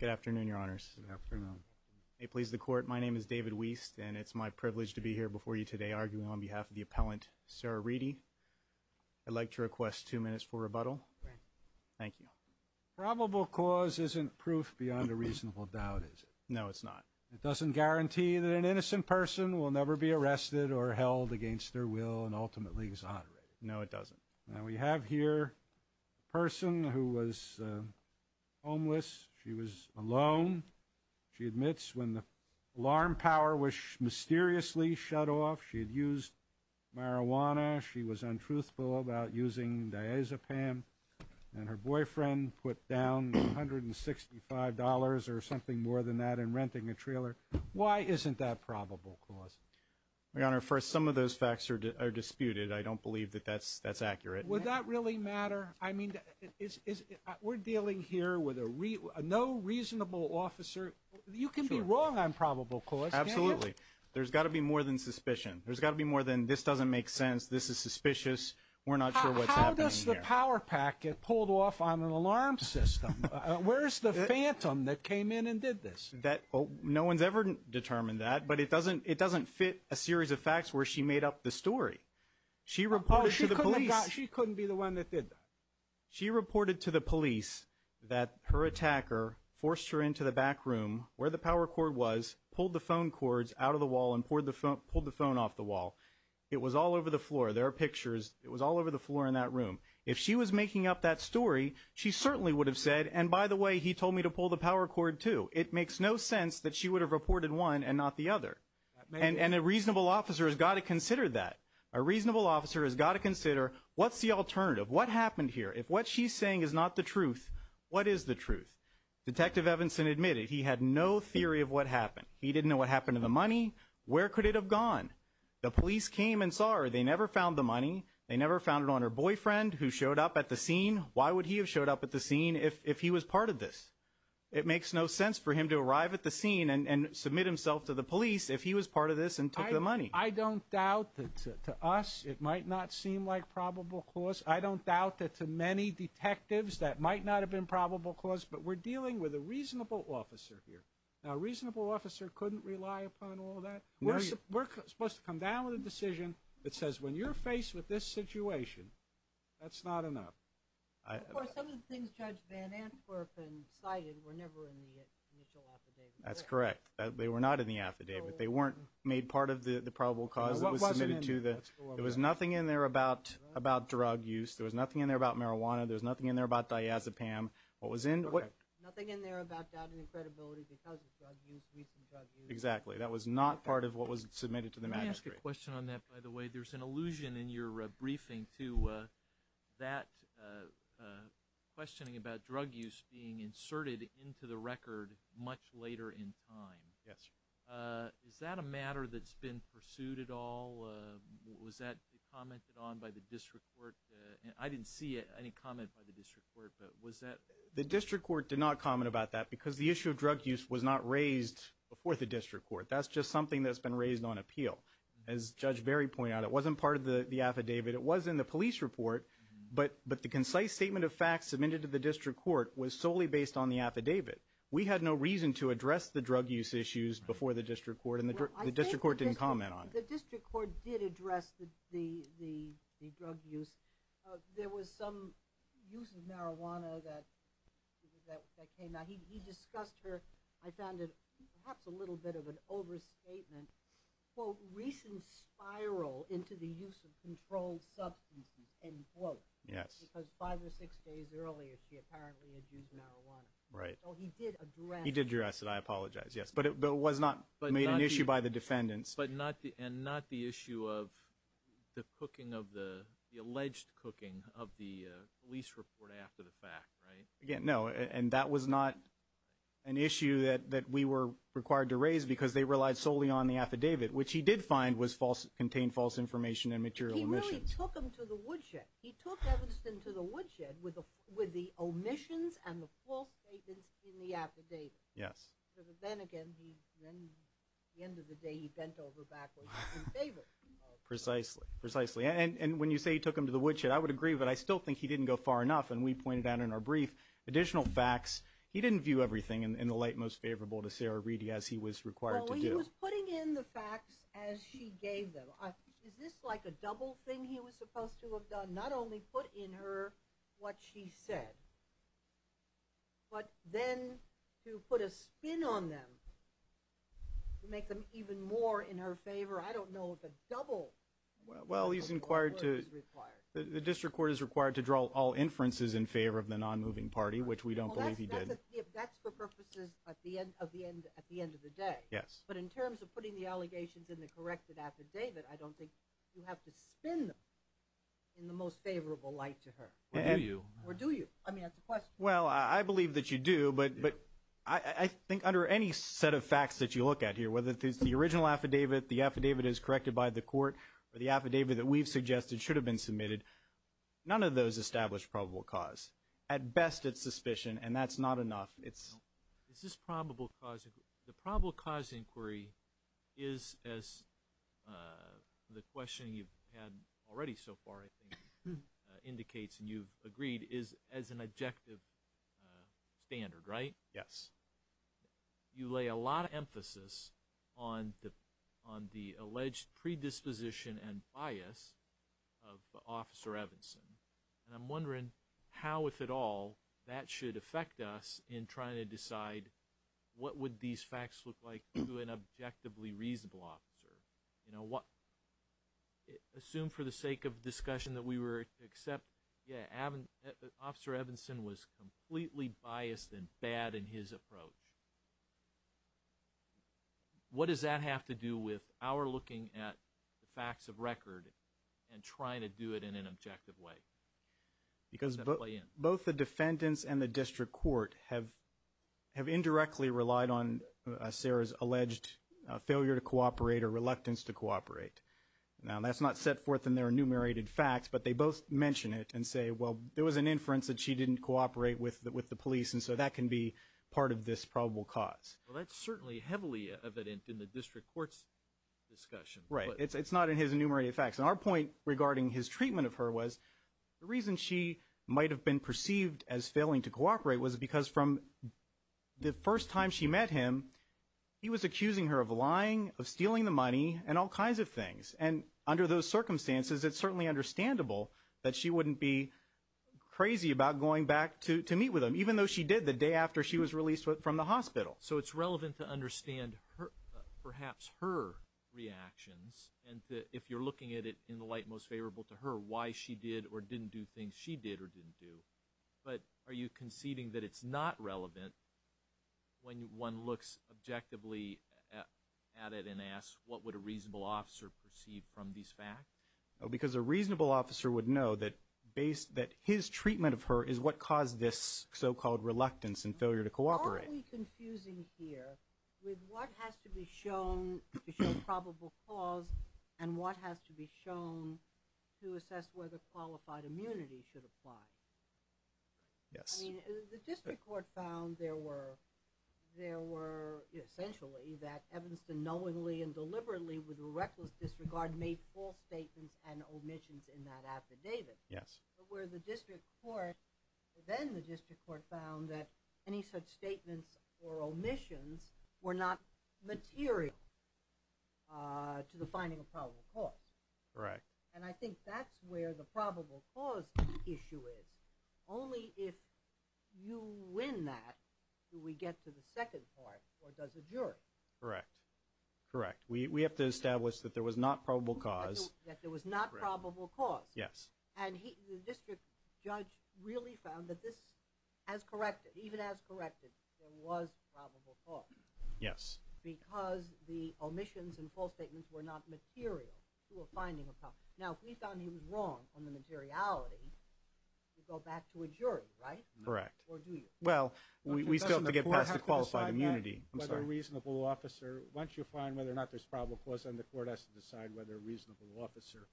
Good afternoon, your honors. Good afternoon. May it please the court, my name is David Wiest and it's my privilege to be here before you today arguing on behalf of the appellant, Sarah Reedy. I'd like to request two minutes for rebuttal. Thank you. Probable cause isn't proof beyond a reasonable doubt, is it? No, it's not. It doesn't guarantee that an innocent person will never be arrested or held against their will and ultimately exonerated? No, it doesn't. Now we have here a person who was homeless. She was alone. She admits when the alarm power was mysteriously shut off, she had used marijuana. She was untruthful about using diazepam and her boyfriend put down $165 or something more than that in renting a trailer. Why isn't that probable cause? My honor, first, some of those facts are disputed. I don't believe that that's accurate. Would that really matter? I mean, we're dealing here with a no reasonable officer. You can be wrong on probable cause. Absolutely. There's got to be more than suspicion. There's got to be more than this doesn't make sense, this is suspicious, we're not sure what's happening here. How does the power pack get pulled off on an alarm system? Where's the phantom that came in and did this? No one's ever determined that, but it doesn't fit a she reported to the police. She couldn't be the one that did that. She reported to the police that her attacker forced her into the back room where the power cord was pulled the phone cords out of the wall and pulled the phone off the wall. It was all over the floor. There are pictures. It was all over the floor in that room. If she was making up that story, she certainly would have said. And by the way, he told me to pull the power cord too. It makes no sense that she would have reported one and not the other. And a reasonable officer has got to consider that a reasonable officer has got to consider what's the alternative? What happened here? If what she's saying is not the truth, what is the truth? Detective Evanson admitted he had no theory of what happened. He didn't know what happened to the money. Where could it have gone? The police came and saw her. They never found the money. They never found it on her boyfriend who showed up at the scene. Why would he have showed up at the scene if he was part of this? It makes no sense for him to arrive at the scene and submit himself to the police if he was part of this and took the money. I don't doubt that to us, it might not seem like probable cause. I don't doubt that to many detectives that might not have been probable cause. But we're dealing with a reasonable officer here. Now, a reasonable officer couldn't rely upon all that. We're supposed to come down with a decision that says when you're faced with this situation, that's not enough. Of course, some of the things Judge Van Antwerpen cited were never in the initial affidavit. That's correct. They were not in the affidavit. They weren't made part of the probable cause. There was nothing in there about drug use. There was nothing in there about marijuana. There was nothing in there about diazepam. Nothing in there about doubt and credibility because of drug use, recent drug use. Exactly. That was not part of what was submitted to the magistrate. Let me ask a question on that, by the way. There's an allusion in your briefing to that questioning about drug use being inserted into the record much later in time. Yes. Is that a matter that's been pursued at all? Was that commented on by the district court? I didn't see any comment by the district court, but was that? The district court did not comment about that because the issue of drug use was not raised before the district court. That's just something that's been raised on appeal. As Judge Barry pointed out, it wasn't part of the affidavit. It was in the police report, but the concise statement of facts submitted to the district court was solely based on the affidavit. We had no reason to address the drug use issues before the district court and the district court didn't comment on it. The district court did address the drug use. There was some use of marijuana that came out. He discussed her. I found it perhaps a little bit of an overstatement, quote, recent spiral into the use of controlled substances, end quote, because five or six days earlier she apparently had used marijuana. He did address it. I apologize. But it was not made an issue by the defendants. But not the issue of the cooking of the alleged cooking of the police report after the fact, right? No, and that was not an issue that we were required to raise because they relied solely on the affidavit, which he did find contained false information and material omissions. He took him to the woodshed. He took Evanston to the woodshed with the omissions and the false statements in the affidavit. But then again, at the end of the day, he bent over backwards in favor of the affidavit. Precisely, precisely. And when you say he took him to the woodshed, I would agree, but I still think he didn't go far enough. And we pointed out in our brief additional facts. He didn't view everything in the light most favorable to Sarah Reedy as he was required to do. He was putting in the facts as she gave them. Is this like a double thing he was supposed to have done? Not only put in her what she said, but then to put a spin on them to make them even more in her favor? I don't know if a double. Well, he's inquired to require the district court is required to draw all inferences in favor of the non moving party, which we don't believe he did. That's for purposes at the end of the day. But in terms of putting the allegations in the corrected affidavit, I don't think you have to spin them in the most favorable light to her. Or do you? Or do you? I mean, that's a question. None of those establish probable cause. At best, it's suspicion, and that's not enough. Is this probable cause? The probable cause inquiry is, as the question you've had already so far, I think, indicates and you've agreed, is as an objective standard, right? Yes. You lay a lot of emphasis on the alleged predisposition and bias of Officer Evanson. And I'm wondering how, if at all, that should affect us in trying to decide what would these facts look like to an objectively reasonable officer? Assume for the sake of discussion that we were to accept, yeah, Officer Evanson was completely biased and bad in his approach. What does that have to do with our looking at the facts of record and trying to do it in an objective way? Because both the defendants and the district court have indirectly relied on Sarah's alleged failure to cooperate or reluctance to cooperate. Now, that's not set forth in their enumerated facts, but they both mention it and say, well, there was an inference that she didn't cooperate with the police, and so that can be part of this probable cause. Well, that's certainly heavily evident in the district court's discussion. Right. It's not in his enumerated facts. And our point regarding his treatment of her was the reason she might have been perceived as failing to cooperate was because from the first time she met him, he was accusing her of lying, of stealing the money, and all kinds of things. And under those circumstances, it's certainly understandable that she wouldn't be crazy about going back to meet with him, even though she did the day after she was released from the hospital. So it's relevant to understand perhaps her reactions and if you're looking at it in the light most favorable to her, why she did or didn't do things she did or didn't do. But are you conceding that it's not relevant when one looks objectively at it and asks what would a reasonable officer perceive from these facts? Because a reasonable officer would know that his treatment of her is what caused this so-called reluctance and failure to cooperate. It's probably confusing here with what has to be shown to show probable cause and what has to be shown to assess whether qualified immunity should apply. Yes. I mean, the district court found there were essentially that Evanston knowingly and deliberately with reckless disregard made false statements and omissions in that affidavit. Yes. But where the district court, then the district court found that any such statements or omissions were not material to the finding of probable cause. Correct. And I think that's where the probable cause issue is. Only if you win that do we get to the second part, or does the jury? Correct. Correct. We have to establish that there was not probable cause. That there was not probable cause. Yes. And the district judge really found that this, as corrected, even as corrected, there was probable cause. Yes. Because the omissions and false statements were not material to a finding of probable cause. Now, if we found he was wrong on the materiality, you go back to a jury, right? Correct. Or do you? Well, we still have to get past the qualified immunity. Once you find whether or not there's probable cause, then the court has to decide whether a reasonable officer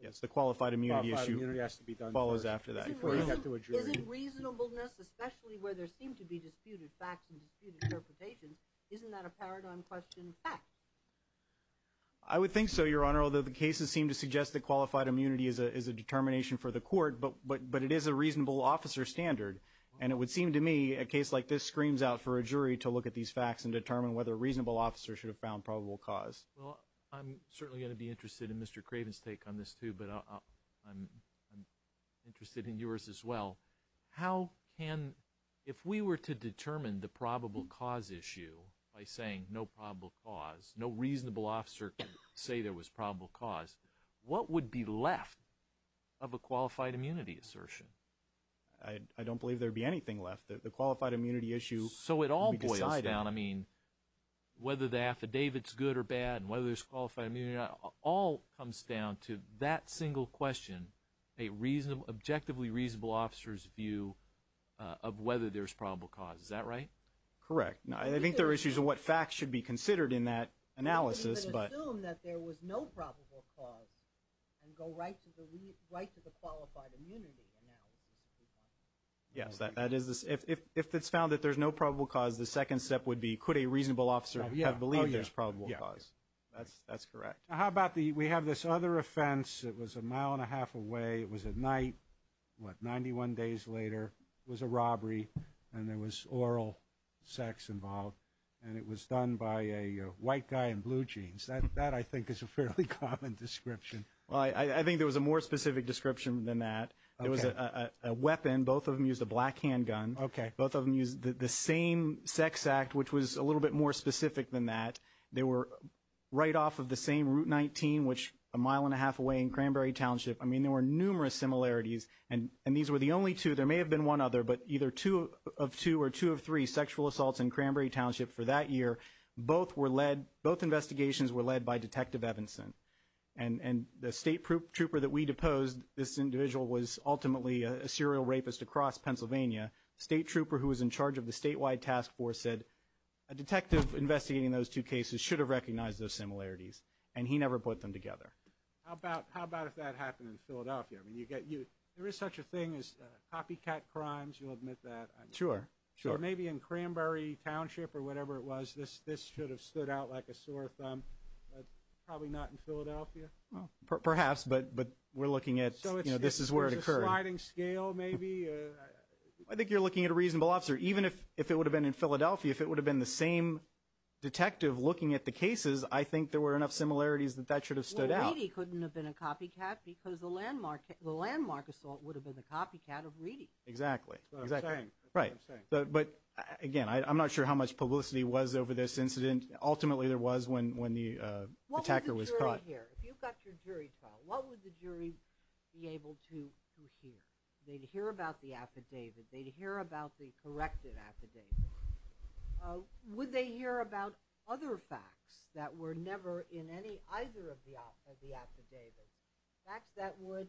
Yes, the qualified immunity issue follows after that. Before you get to a jury. Isn't reasonableness, especially where there seem to be disputed facts and disputed interpretations, isn't that a paradigm question of facts? I would think so, Your Honor, although the cases seem to suggest that qualified immunity is a determination for the court, but it is a reasonable officer standard. And it would seem to me a case like this screams out for a jury to look at these facts and determine whether a reasonable officer should have found probable cause. Well, I'm certainly going to be interested in Mr. Craven's take on this, too, but I'm interested in yours as well. How can – if we were to determine the probable cause issue by saying no probable cause, no reasonable officer can say there was probable cause, what would be left of a qualified immunity assertion? I don't believe there would be anything left. The qualified immunity issue we decide on. I mean, whether the affidavit's good or bad and whether there's qualified immunity or not all comes down to that single question, a reasonably – objectively reasonable officer's view of whether there's probable cause. Is that right? Correct. I think there are issues of what facts should be considered in that analysis, but – We can even assume that there was no probable cause and go right to the – right to the qualified immunity analysis, if we want. Yes, that is – if it's found that there's no probable cause, the second step would be could a reasonable officer have believed there's probable cause. That's correct. How about the – we have this other offense. It was a mile and a half away. It was at night, what, 91 days later. It was a robbery, and there was oral sex involved, and it was done by a white guy in blue jeans. That, I think, is a fairly common description. Well, I think there was a more specific description than that. Okay. There was a weapon. Both of them used a black handgun. Okay. Both of them used the same sex act, which was a little bit more specific than that. They were right off of the same Route 19, which a mile and a half away in Cranberry Township. I mean, there were numerous similarities, and these were the only two. There may have been one other, but either two of two or two of three sexual assaults in Cranberry Township for that year, both were led – both investigations were led by Detective Evanson. And the state trooper that we deposed, this individual was ultimately a serial rapist across Pennsylvania. The state trooper who was in charge of the statewide task force said, a detective investigating those two cases should have recognized those similarities, and he never put them together. How about if that happened in Philadelphia? I mean, you get – there is such a thing as copycat crimes. You'll admit that. Sure, sure. Maybe in Cranberry Township or whatever it was, this should have stood out like a sore thumb. Probably not in Philadelphia. Perhaps, but we're looking at – you know, this is where it occurred. So it's a sliding scale maybe? I think you're looking at a reasonable officer. Even if it would have been in Philadelphia, if it would have been the same detective looking at the cases, I think there were enough similarities that that should have stood out. Well, Reedy couldn't have been a copycat because the landmark assault would have been the copycat of Reedy. Exactly. That's what I'm saying. Right. But, again, I'm not sure how much publicity was over this incident. Ultimately, there was when the attacker was caught. What would the jury hear? If you've got your jury trial, what would the jury be able to hear? They'd hear about the affidavit. They'd hear about the corrected affidavit. Would they hear about other facts that were never in any – either of the affidavits, facts that would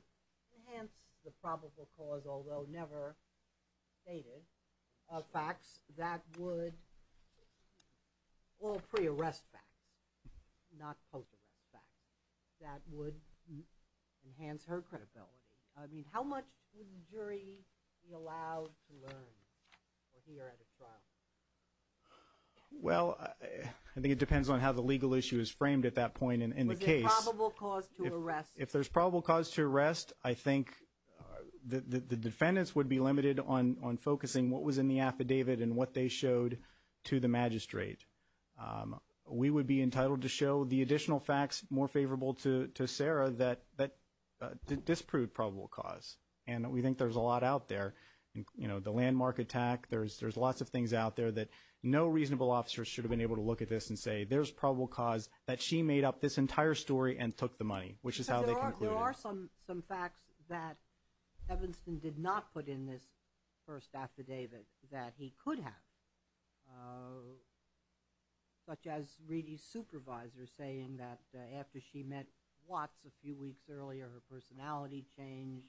enhance the probable cause, although never stated, facts that would – well, pre-arrest facts, not post-arrest facts – that would enhance her credibility? I mean, how much would the jury be allowed to learn or hear at a trial? Well, I think it depends on how the legal issue is framed at that point in the case. If there's probable cause to arrest. If there's probable cause to arrest, I think the defendants would be limited on focusing what was in the affidavit and what they showed to the magistrate. We would be entitled to show the additional facts more favorable to Sarah that disproved probable cause, and we think there's a lot out there. The landmark attack, there's lots of things out there that no reasonable officer should have been able to look at this and say there's probable cause that she made up this entire story and took the money, which is how they concluded. There are some facts that Evanston did not put in this first affidavit that he could have, such as Reedy's supervisor saying that after she met Watts a few weeks earlier, her personality changed,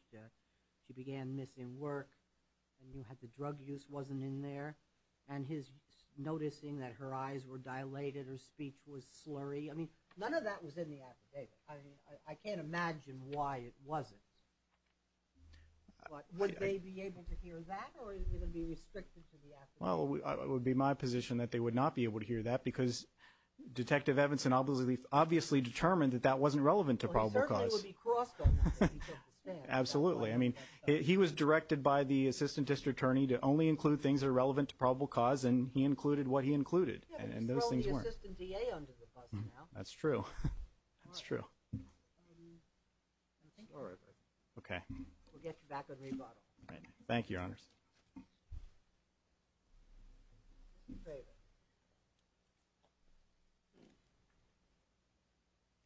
she began missing work, and the drug use wasn't in there, and his noticing that her eyes were dilated, her speech was slurry. I mean, none of that was in the affidavit. I can't imagine why it wasn't. Would they be able to hear that, or would it be restricted to the affidavit? Well, it would be my position that they would not be able to hear that because Detective Evanston obviously determined that that wasn't relevant to probable cause. Well, he certainly would be crossed on that if he took the stand. Absolutely. I mean, he was directed by the assistant district attorney to only include things that are relevant to probable cause, and he included what he included, and those things work. Yeah, but he's throwing the assistant DA under the bus now. That's true. All right. That's true. I think we're over. Okay. We'll get you back on rebuttal. All right. Thank you, Your Honors. Mr. Craven.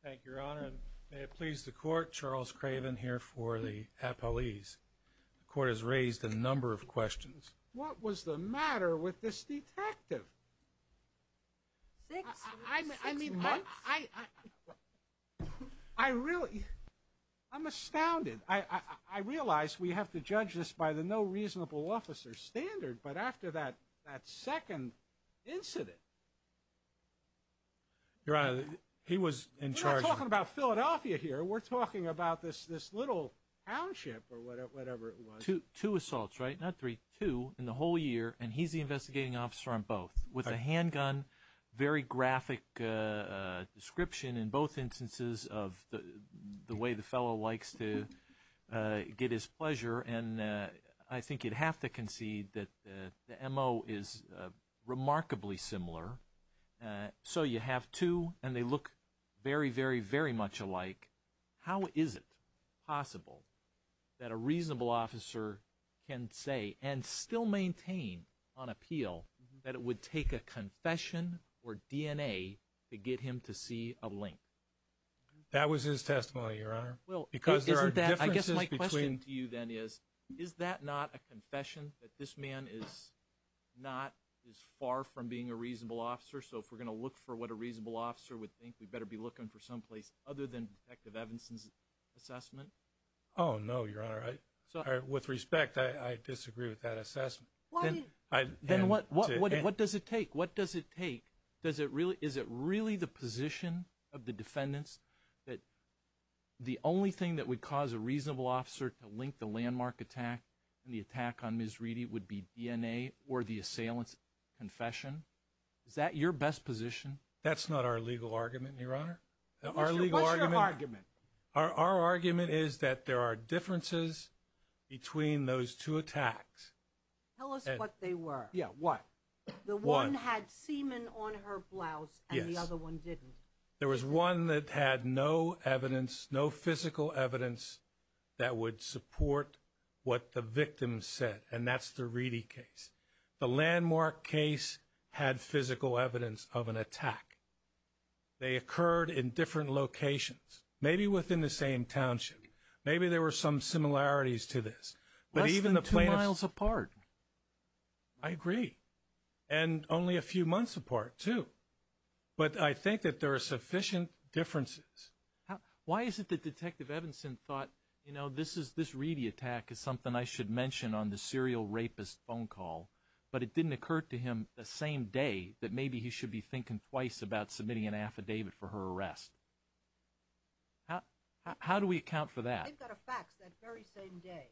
Thank you, Your Honor. And may it please the Court, Charles Craven here for the appellees. The Court has raised a number of questions. What was the matter with this detective? Six months? I'm astounded. I realize we have to judge this by the no reasonable officer standard, but after that second incident. Your Honor, he was in charge. We're not talking about Philadelphia here. We're talking about this little township or whatever it was. Two assaults, right? Not three. Two in the whole year, and he's the investigating officer on both with a handgun, very graphic description in both instances of the way the fellow likes to get his pleasure. And I think you'd have to concede that the MO is remarkably similar. So you have two, and they look very, very, very much alike. How is it possible that a reasonable officer can say and still maintain on appeal that it would take a confession or DNA to get him to see a link? That was his testimony, Your Honor. Well, isn't that, I guess my question to you then is, is that not a confession that this man is not as far from being a reasonable officer? So if we're going to look for what a reasonable officer would think, we'd better be looking for someplace other than Detective Evanson's assessment? Oh, no, Your Honor. With respect, I disagree with that assessment. Then what does it take? What does it take? Is it really the position of the defendants that the only thing that would cause a reasonable officer to link the landmark attack and the attack on Ms. Reedy would be DNA or the assailant's confession? Is that your best position? That's not our legal argument, Your Honor. What's your argument? Our argument is that there are differences between those two attacks. Tell us what they were. Yeah, what? The one had semen on her blouse, and the other one didn't. There was one that had no evidence, no physical evidence that would support what the victim said, and that's the Reedy case. The landmark case had physical evidence of an attack. They occurred in different locations, maybe within the same township. Maybe there were some similarities to this. Less than two miles apart. I agree, and only a few months apart, too. But I think that there are sufficient differences. Why is it that Detective Evanson thought, you know, this Reedy attack is something I should mention on the serial rapist phone call, but it didn't occur to him the same day that maybe he should be thinking twice about submitting an affidavit for her arrest? How do we account for that? They got a fax that very same day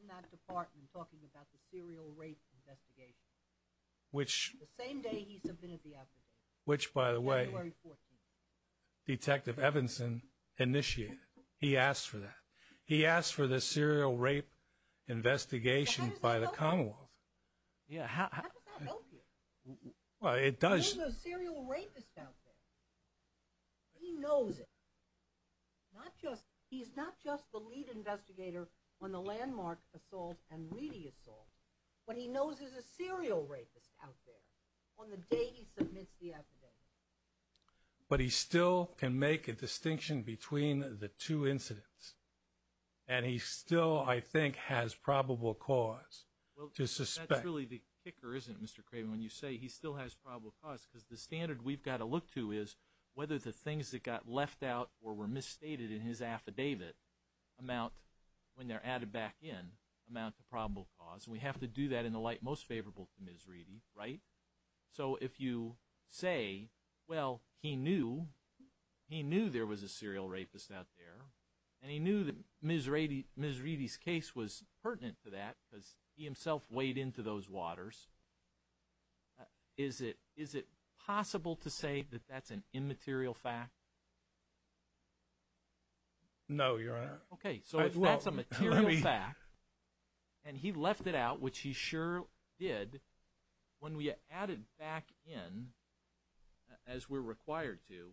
in that department talking about the serial rape investigation. Which? The same day he submitted the affidavit. Which, by the way, Detective Evanson initiated. He asked for that. He asked for the serial rape investigation by the Commonwealth. How does that help you? Well, it does. There's a serial rapist out there. He knows it. He's not just the lead investigator on the landmark assault and Reedy assault. But he knows there's a serial rapist out there on the day he submits the affidavit. But he still can make a distinction between the two incidents. And he still, I think, has probable cause to suspect. That's really the kicker, isn't it, Mr. Craven, when you say he still has probable cause? Because the standard we've got to look to is whether the things that got left out or were misstated in his affidavit amount, when they're added back in, amount to probable cause. And we have to do that in the light most favorable to Ms. Reedy, right? So if you say, well, he knew. He knew there was a serial rapist out there. And he knew that Ms. Reedy's case was pertinent to that because he himself weighed into those waters. Is it possible to say that that's an immaterial fact? No, Your Honor. Okay, so if that's a material fact. And he left it out, which he sure did. When we add it back in, as we're required to,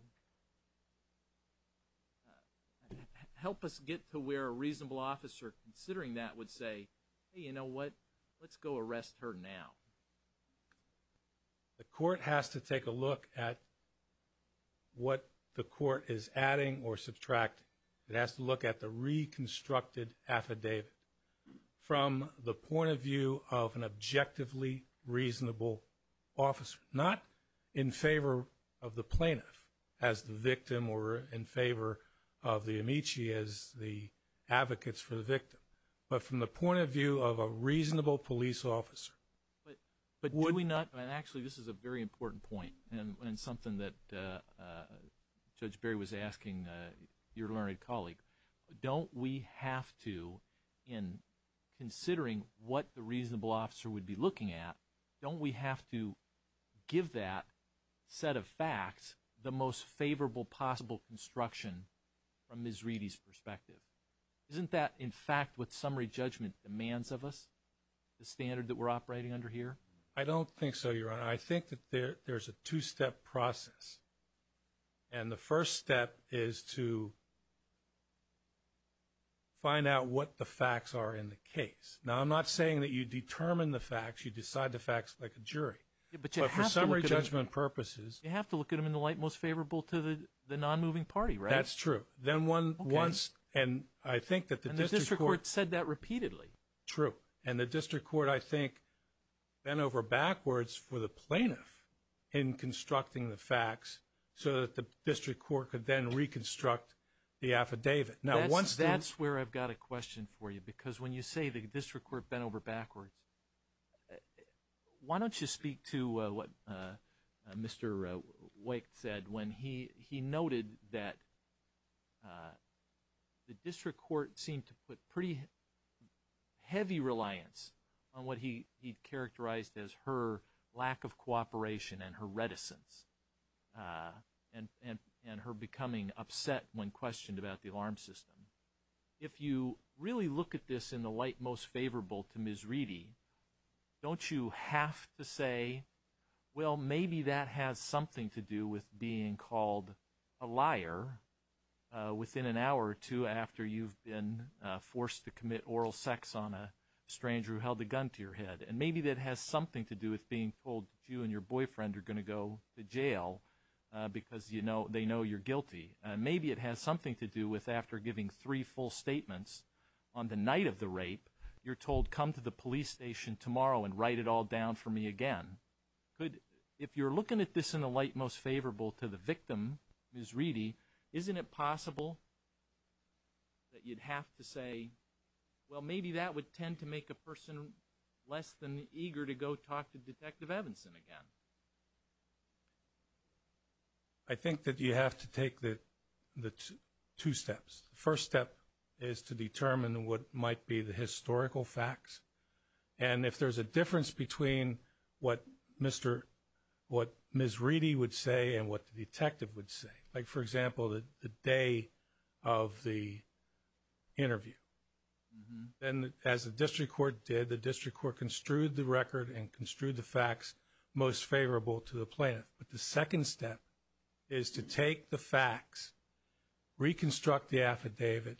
help us get to where a reasonable officer considering that would say, hey, you know what, let's go arrest her now. The court has to take a look at what the court is adding or subtract. It has to look at the reconstructed affidavit from the point of view of an objectively reasonable officer, not in favor of the plaintiff as the victim or in favor of the amici as the advocates for the victim, but from the point of view of a reasonable police officer. But do we not, and actually this is a very important point and something that Judge Berry was asking your learned colleague, don't we have to, in considering what the reasonable officer would be looking at, don't we have to give that set of facts the most favorable possible construction from Ms. Reedy's perspective? Isn't that, in fact, what summary judgment demands of us, the standard that we're operating under here? I don't think so, Your Honor. And I think that there's a two-step process. And the first step is to find out what the facts are in the case. Now, I'm not saying that you determine the facts, you decide the facts like a jury. But for summary judgment purposes. You have to look at them in the light most favorable to the nonmoving party, right? That's true. Then once, and I think that the district court. And the district court said that repeatedly. True. And the district court, I think, bent over backwards for the plaintiff in constructing the facts so that the district court could then reconstruct the affidavit. That's where I've got a question for you. Because when you say the district court bent over backwards, why don't you speak to what Mr. Wake said when he noted that the district court seemed to put pretty heavy reliance on what he characterized as her lack of cooperation and her reticence and her becoming upset when questioned about the alarm system. If you really look at this in the light most favorable to Ms. Reedy, don't you have to say, well, maybe that has something to do with being called a liar within an hour or two after you've been forced to commit oral sex on a stranger who held a gun to your head. And maybe that has something to do with being told that you and your boyfriend are going to go to jail because they know you're guilty. Maybe it has something to do with after giving three full statements on the night of the rape, you're told, come to the police station tomorrow and write it all down for me again. If you're looking at this in the light most favorable to the victim, Ms. Reedy, isn't it possible that you'd have to say, well, maybe that would tend to make a person less than eager to go talk to Detective Evanson again? I think that you have to take the two steps. The first step is to determine what might be the historical facts. And if there's a difference between what Ms. Reedy would say and what the detective would say, like, for example, the day of the interview. And as the district court did, the district court construed the record and construed the facts most favorable to the plaintiff. But the second step is to take the facts, reconstruct the affidavit,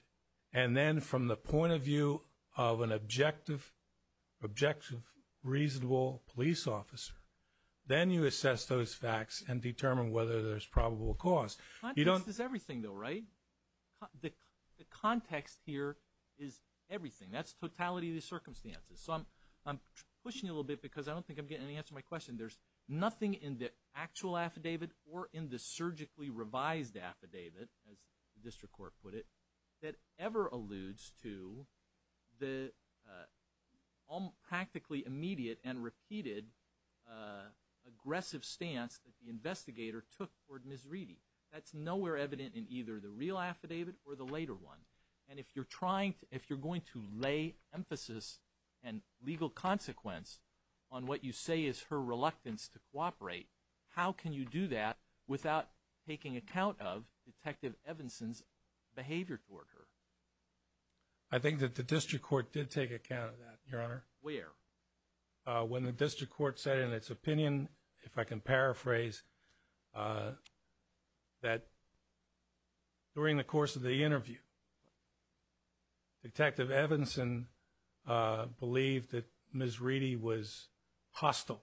and then from the point of view of an objective, reasonable police officer, then you assess those facts and determine whether there's probable cause. Context is everything, though, right? The context here is everything. That's totality of the circumstances. So I'm pushing a little bit because I don't think I'm getting any answer to my question. There's nothing in the actual affidavit or in the surgically revised affidavit, as the district court put it, that ever alludes to the practically immediate and repeated aggressive stance that the investigator took toward Ms. Reedy. That's nowhere evident in either the real affidavit or the later one. And if you're going to lay emphasis and legal consequence on what you say is her reluctance to cooperate, how can you do that without taking account of Detective Evanson's behavior toward her? I think that the district court did take account of that, Your Honor. Where? When the district court said in its opinion, if I can paraphrase, that during the course of the interview, Detective Evanson believed that Ms. Reedy was hostile.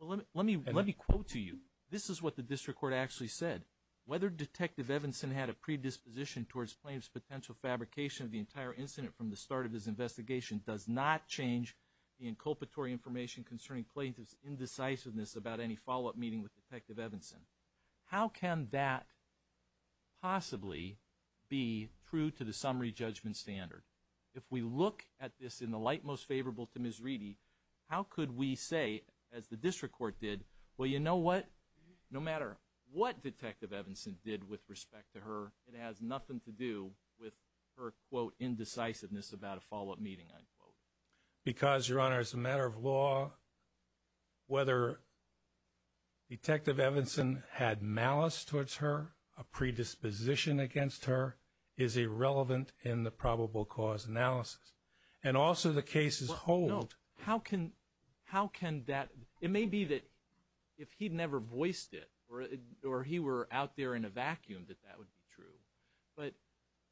Let me quote to you. This is what the district court actually said. Whether Detective Evanson had a predisposition towards plaintiff's potential fabrication of the entire incident from the start of his investigation does not change the inculpatory information concerning plaintiff's indecisiveness about any follow-up meeting with Detective Evanson. How can that possibly be true to the summary judgment standard? If we look at this in the light most favorable to Ms. Reedy, how could we say, as the district court did, well, you know what, no matter what Detective Evanson did with respect to her, it has nothing to do with her, quote, indecisiveness about a follow-up meeting, unquote. Because, Your Honor, as a matter of law, whether Detective Evanson had malice towards her, a predisposition against her, is irrelevant in the probable cause analysis. And also the cases hold. How can that – it may be that if he never voiced it or he were out there in a vacuum that that would be true. But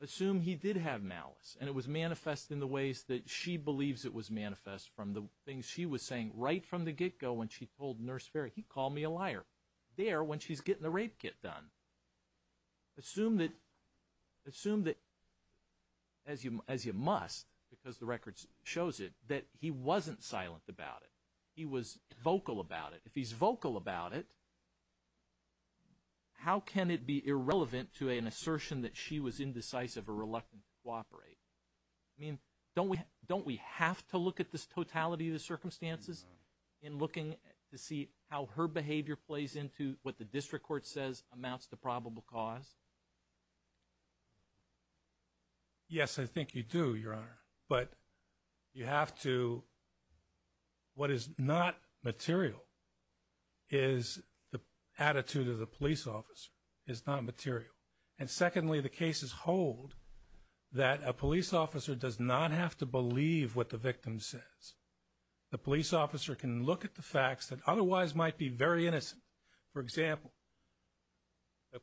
assume he did have malice and it was manifest in the ways that she believes it was manifest from the things she was saying right from the get-go when she told Nurse Ferry, he called me a liar, there when she's getting the rape kit done. Assume that, as you must, because the record shows it, that he wasn't silent about it, he was vocal about it. If he's vocal about it, how can it be irrelevant to an assertion that she was indecisive or reluctant to cooperate? I mean, don't we have to look at this totality of the circumstances in looking to see how her behavior plays into what the district court says amounts to probable cause? Yes, I think you do, Your Honor. But you have to – what is not material is the attitude of the police officer is not material. And secondly, the cases hold that a police officer does not have to believe what the victim says. The police officer can look at the facts that otherwise might be very innocent. For example, a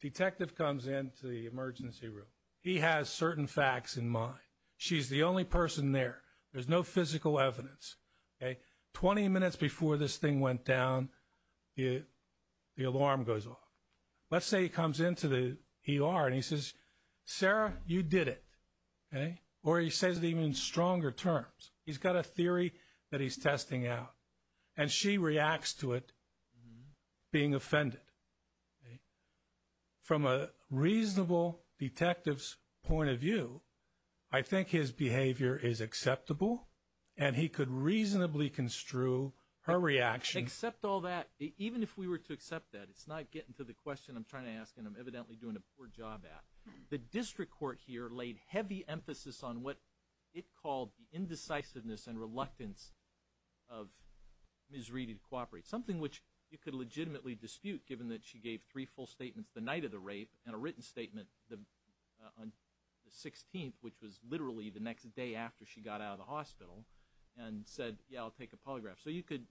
detective comes into the emergency room. He has certain facts in mind. She's the only person there. There's no physical evidence. Twenty minutes before this thing went down, the alarm goes off. Let's say he comes into the ER and he says, Sarah, you did it. Or he says it even in stronger terms. He's got a theory that he's testing out, and she reacts to it being offended. From a reasonable detective's point of view, I think his behavior is acceptable, and he could reasonably construe her reaction. Except all that, even if we were to accept that, it's not getting to the question I'm trying to ask and I'm evidently doing a poor job at. The district court here laid heavy emphasis on what it called the indecisiveness and reluctance of Ms. Reedy to cooperate, something which you could legitimately dispute, given that she gave three full statements the night of the rape and a written statement on the 16th, which was literally the next day after she got out of the hospital, and said, yeah, I'll take a polygraph. So you could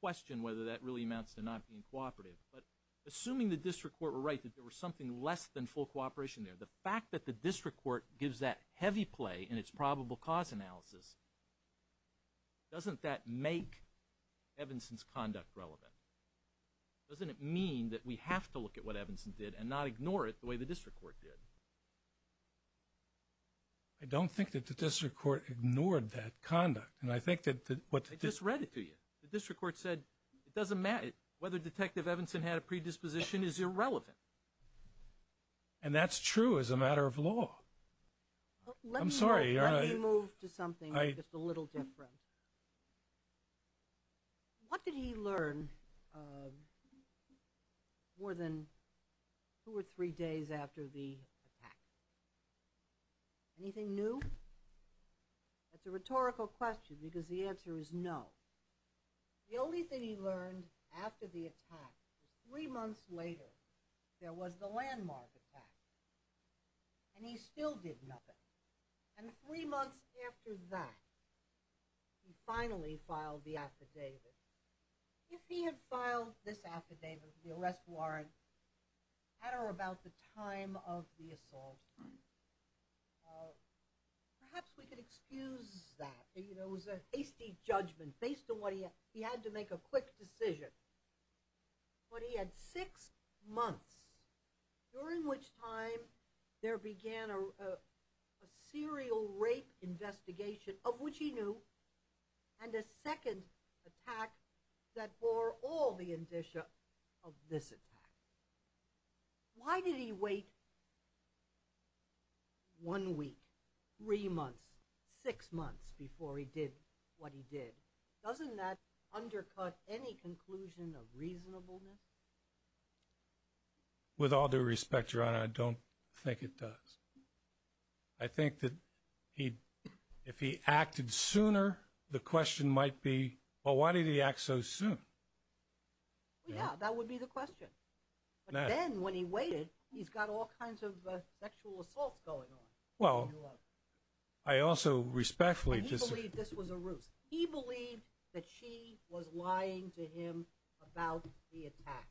question whether that really amounts to not being cooperative. But assuming the district court were right, that there was something less than full cooperation there, the fact that the district court gives that heavy play in its probable cause analysis, doesn't that make Evanson's conduct relevant? Doesn't it mean that we have to look at what Evanson did and not ignore it the way the district court did? I don't think that the district court ignored that conduct. I just read it to you. The district court said it doesn't matter whether Detective Evanson had a predisposition is irrelevant. And that's true as a matter of law. I'm sorry. Let me move to something just a little different. What did he learn more than two or three days after the attack? Anything new? That's a rhetorical question because the answer is no. The only thing he learned after the attack was three months later there was the landmark attack. And he still did nothing. And three months after that, he finally filed the affidavit. If he had filed this affidavit, the arrest warrant, at or about the time of the assault, perhaps we could excuse that. It was a hasty judgment based on what he had. He had to make a quick decision. But he had six months during which time there began a serial rape investigation, of which he knew, and a second attack that bore all the indicia of this attack. Why did he wait one week, three months, six months before he did what he did? Doesn't that undercut any conclusion of reasonableness? With all due respect, Your Honor, I don't think it does. I think that if he acted sooner, the question might be, well, why did he act so soon? Yeah, that would be the question. But then when he waited, he's got all kinds of sexual assaults going on. Well, I also respectfully disagree. He believed this was a ruse. He believed that she was lying to him about the attack.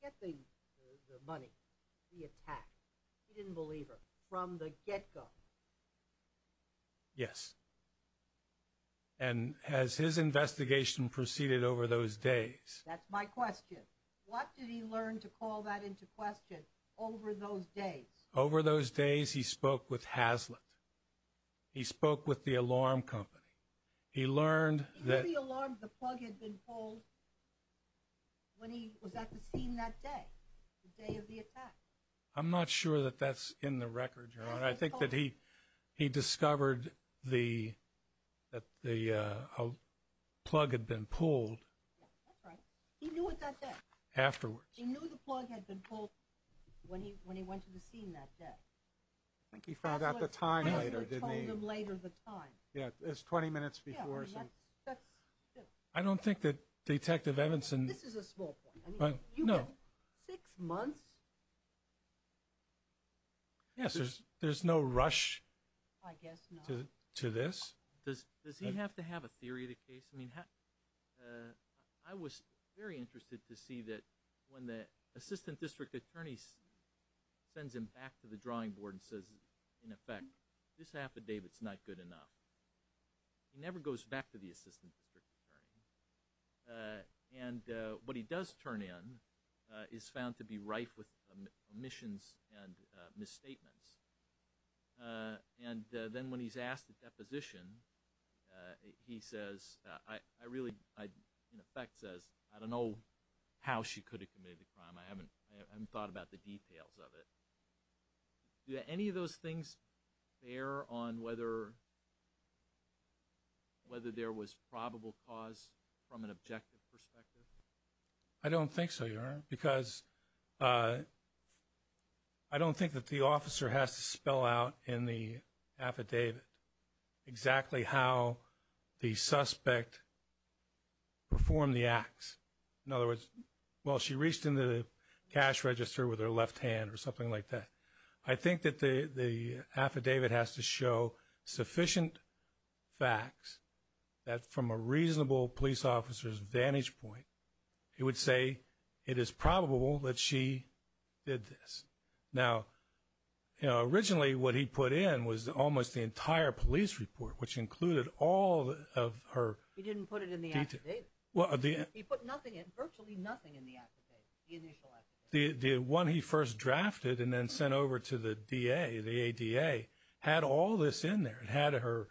Forget the money, the attack. He didn't believe her from the get-go. Yes. And as his investigation proceeded over those days. That's my question. What did he learn to call that into question over those days? Over those days, he spoke with Hazlitt. He spoke with the alarm company. He learned that. He knew the alarm, the plug had been pulled when he was at the scene that day, the day of the attack. I'm not sure that that's in the record, Your Honor. I think that he discovered that the plug had been pulled. Yeah, that's right. He knew it that day. Afterwards. He knew the plug had been pulled when he went to the scene that day. I think he found out the time later, didn't he? Hazlitt told him later the time. Yeah, it was 20 minutes before. I don't think that Detective Evanson. This is a small point. No. Six months? Yes, there's no rush. I guess not. To this. Does he have to have a theory of the case? I mean, I was very interested to see that when the assistant district attorney sends him back to the drawing board and says, in effect, this affidavit's not good enough, he never goes back to the assistant district attorney. And what he does turn in is found to be rife with omissions and misstatements. And then when he's asked the deposition, he says, in effect, says, I don't know how she could have committed the crime. I haven't thought about the details of it. Do any of those things bear on whether there was probable cause from an objective perspective? I don't think so, Your Honor, because I don't think that the officer has to spell out in the affidavit exactly how the suspect performed the acts. In other words, well, she reached into the cash register with her left hand or something like that. I think that the affidavit has to show sufficient facts that from a reasonable police officer's vantage point, he would say it is probable that she did this. Now, originally what he put in was almost the entire police report, which included all of her details. He didn't put it in the affidavit. He put nothing in, virtually nothing in the affidavit, the initial affidavit. The one he first drafted and then sent over to the DA, the ADA, had all this in there. It had her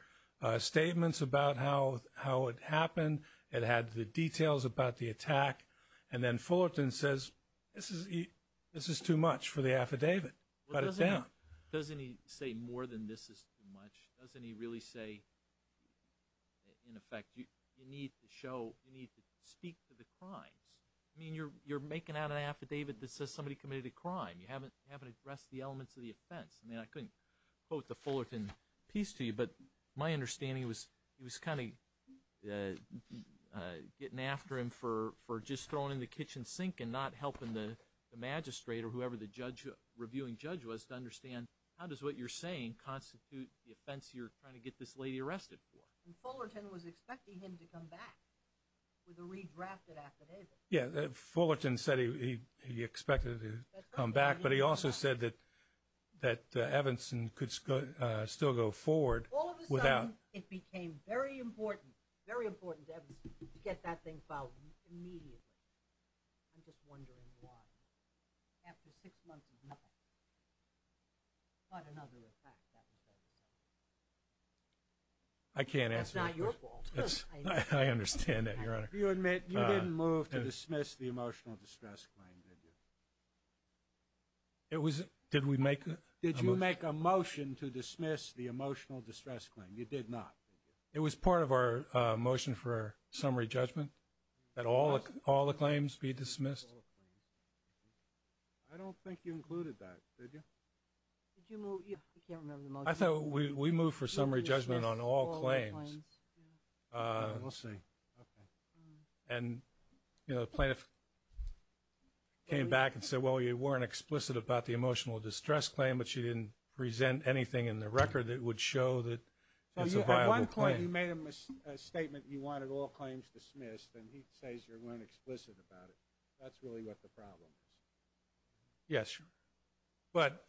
statements about how it happened. It had the details about the attack. And then Fullerton says this is too much for the affidavit. Doesn't he say more than this is too much? Doesn't he really say, in effect, you need to speak to the crimes? I mean, you're making out an affidavit that says somebody committed a crime. You haven't addressed the elements of the offense. I mean, I couldn't quote the Fullerton piece to you, but my understanding was he was kind of getting after him for just throwing in the kitchen sink and not helping the magistrate or whoever the reviewing judge was to understand, how does what you're saying constitute the offense you're trying to get this lady arrested for? And Fullerton was expecting him to come back with a redrafted affidavit. Yeah, Fullerton said he expected her to come back, but he also said that Evanston could still go forward without – All of a sudden, it became very important, very important to Evanston to get that thing filed immediately. I'm just wondering why. After six months of nothing. Not another attack that was ever done. I can't answer that. It's not your fault. I understand that, Your Honor. You admit you didn't move to dismiss the emotional distress claim, did you? Did we make a motion? Did you make a motion to dismiss the emotional distress claim? You did not, did you? It was part of our motion for summary judgment that all the claims be dismissed. I don't think you included that, did you? I thought we moved for summary judgment on all claims. We'll see. And, you know, the plaintiff came back and said, well, you weren't explicit about the emotional distress claim, but she didn't present anything in the record that would show that it's a viable claim. At one point, you made a statement you wanted all claims dismissed, and he says you weren't explicit about it. That's really what the problem is. Yes. But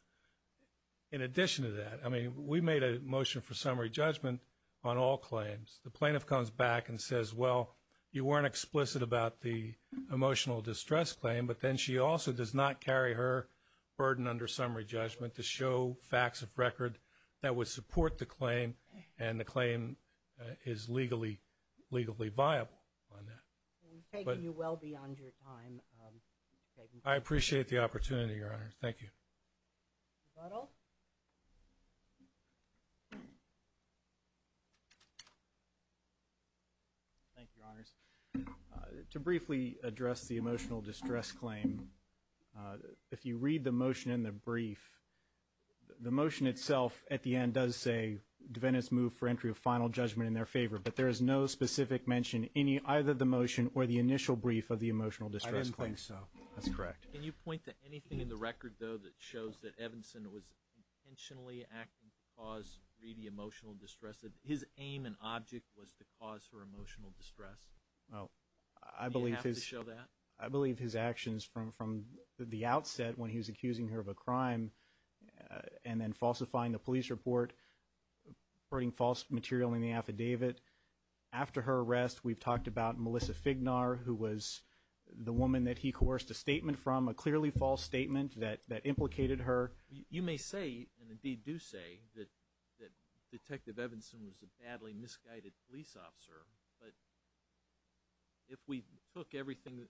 in addition to that, I mean, we made a motion for summary judgment on all claims. The plaintiff comes back and says, well, you weren't explicit about the emotional distress claim, but then she also does not carry her burden under summary judgment to show facts of record that would support the claim, and the claim is legally viable on that. We've taken you well beyond your time. I appreciate the opportunity, Your Honor. Thank you. Rebuttal. Thank you, Your Honors. To briefly address the emotional distress claim, if you read the motion in the brief, the motion itself at the end does say defendants move for entry of final judgment in their favor, but there is no specific mention in either the motion or the initial brief of the emotional distress claim. I didn't think so. That's correct. Can you point to anything in the record, though, that shows that Evanson was intentionally acting to cause really emotional distress, that his aim and object was to cause her emotional distress? Do you have to show that? I believe his actions from the outset when he was accusing her of a crime and then falsifying the police report, putting false material in the affidavit. After her arrest, we've talked about Melissa Fignar, who was the woman that he coerced a statement from, a clearly false statement that implicated her. You may say, and indeed do say, that Detective Evanson was a badly misguided police officer, but if we took everything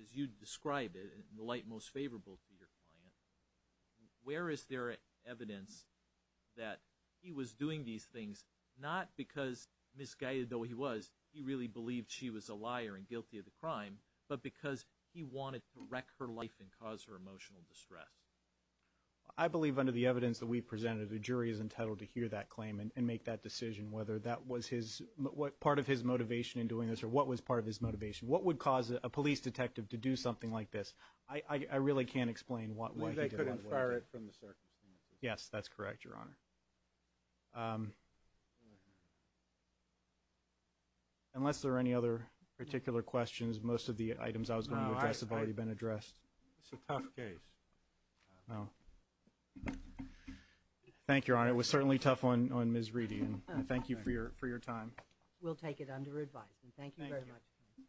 as you described it in the light most favorable to your client, where is there evidence that he was doing these things not because, misguided though he was, he really believed she was a liar and guilty of the crime, but because he wanted to wreck her life and cause her emotional distress? I believe under the evidence that we've presented, the jury is entitled to hear that claim and make that decision, whether that was part of his motivation in doing this or what was part of his motivation. What would cause a police detective to do something like this? I really can't explain what he did. They could infer it from the circumstances. Yes, that's correct, Your Honor. Unless there are any other particular questions, most of the items I was going to address have already been addressed. It's a tough case. Thank you, Your Honor. It was certainly tough on Ms. Reedy, and thank you for your time. We'll take it under advisement. Thank you very much.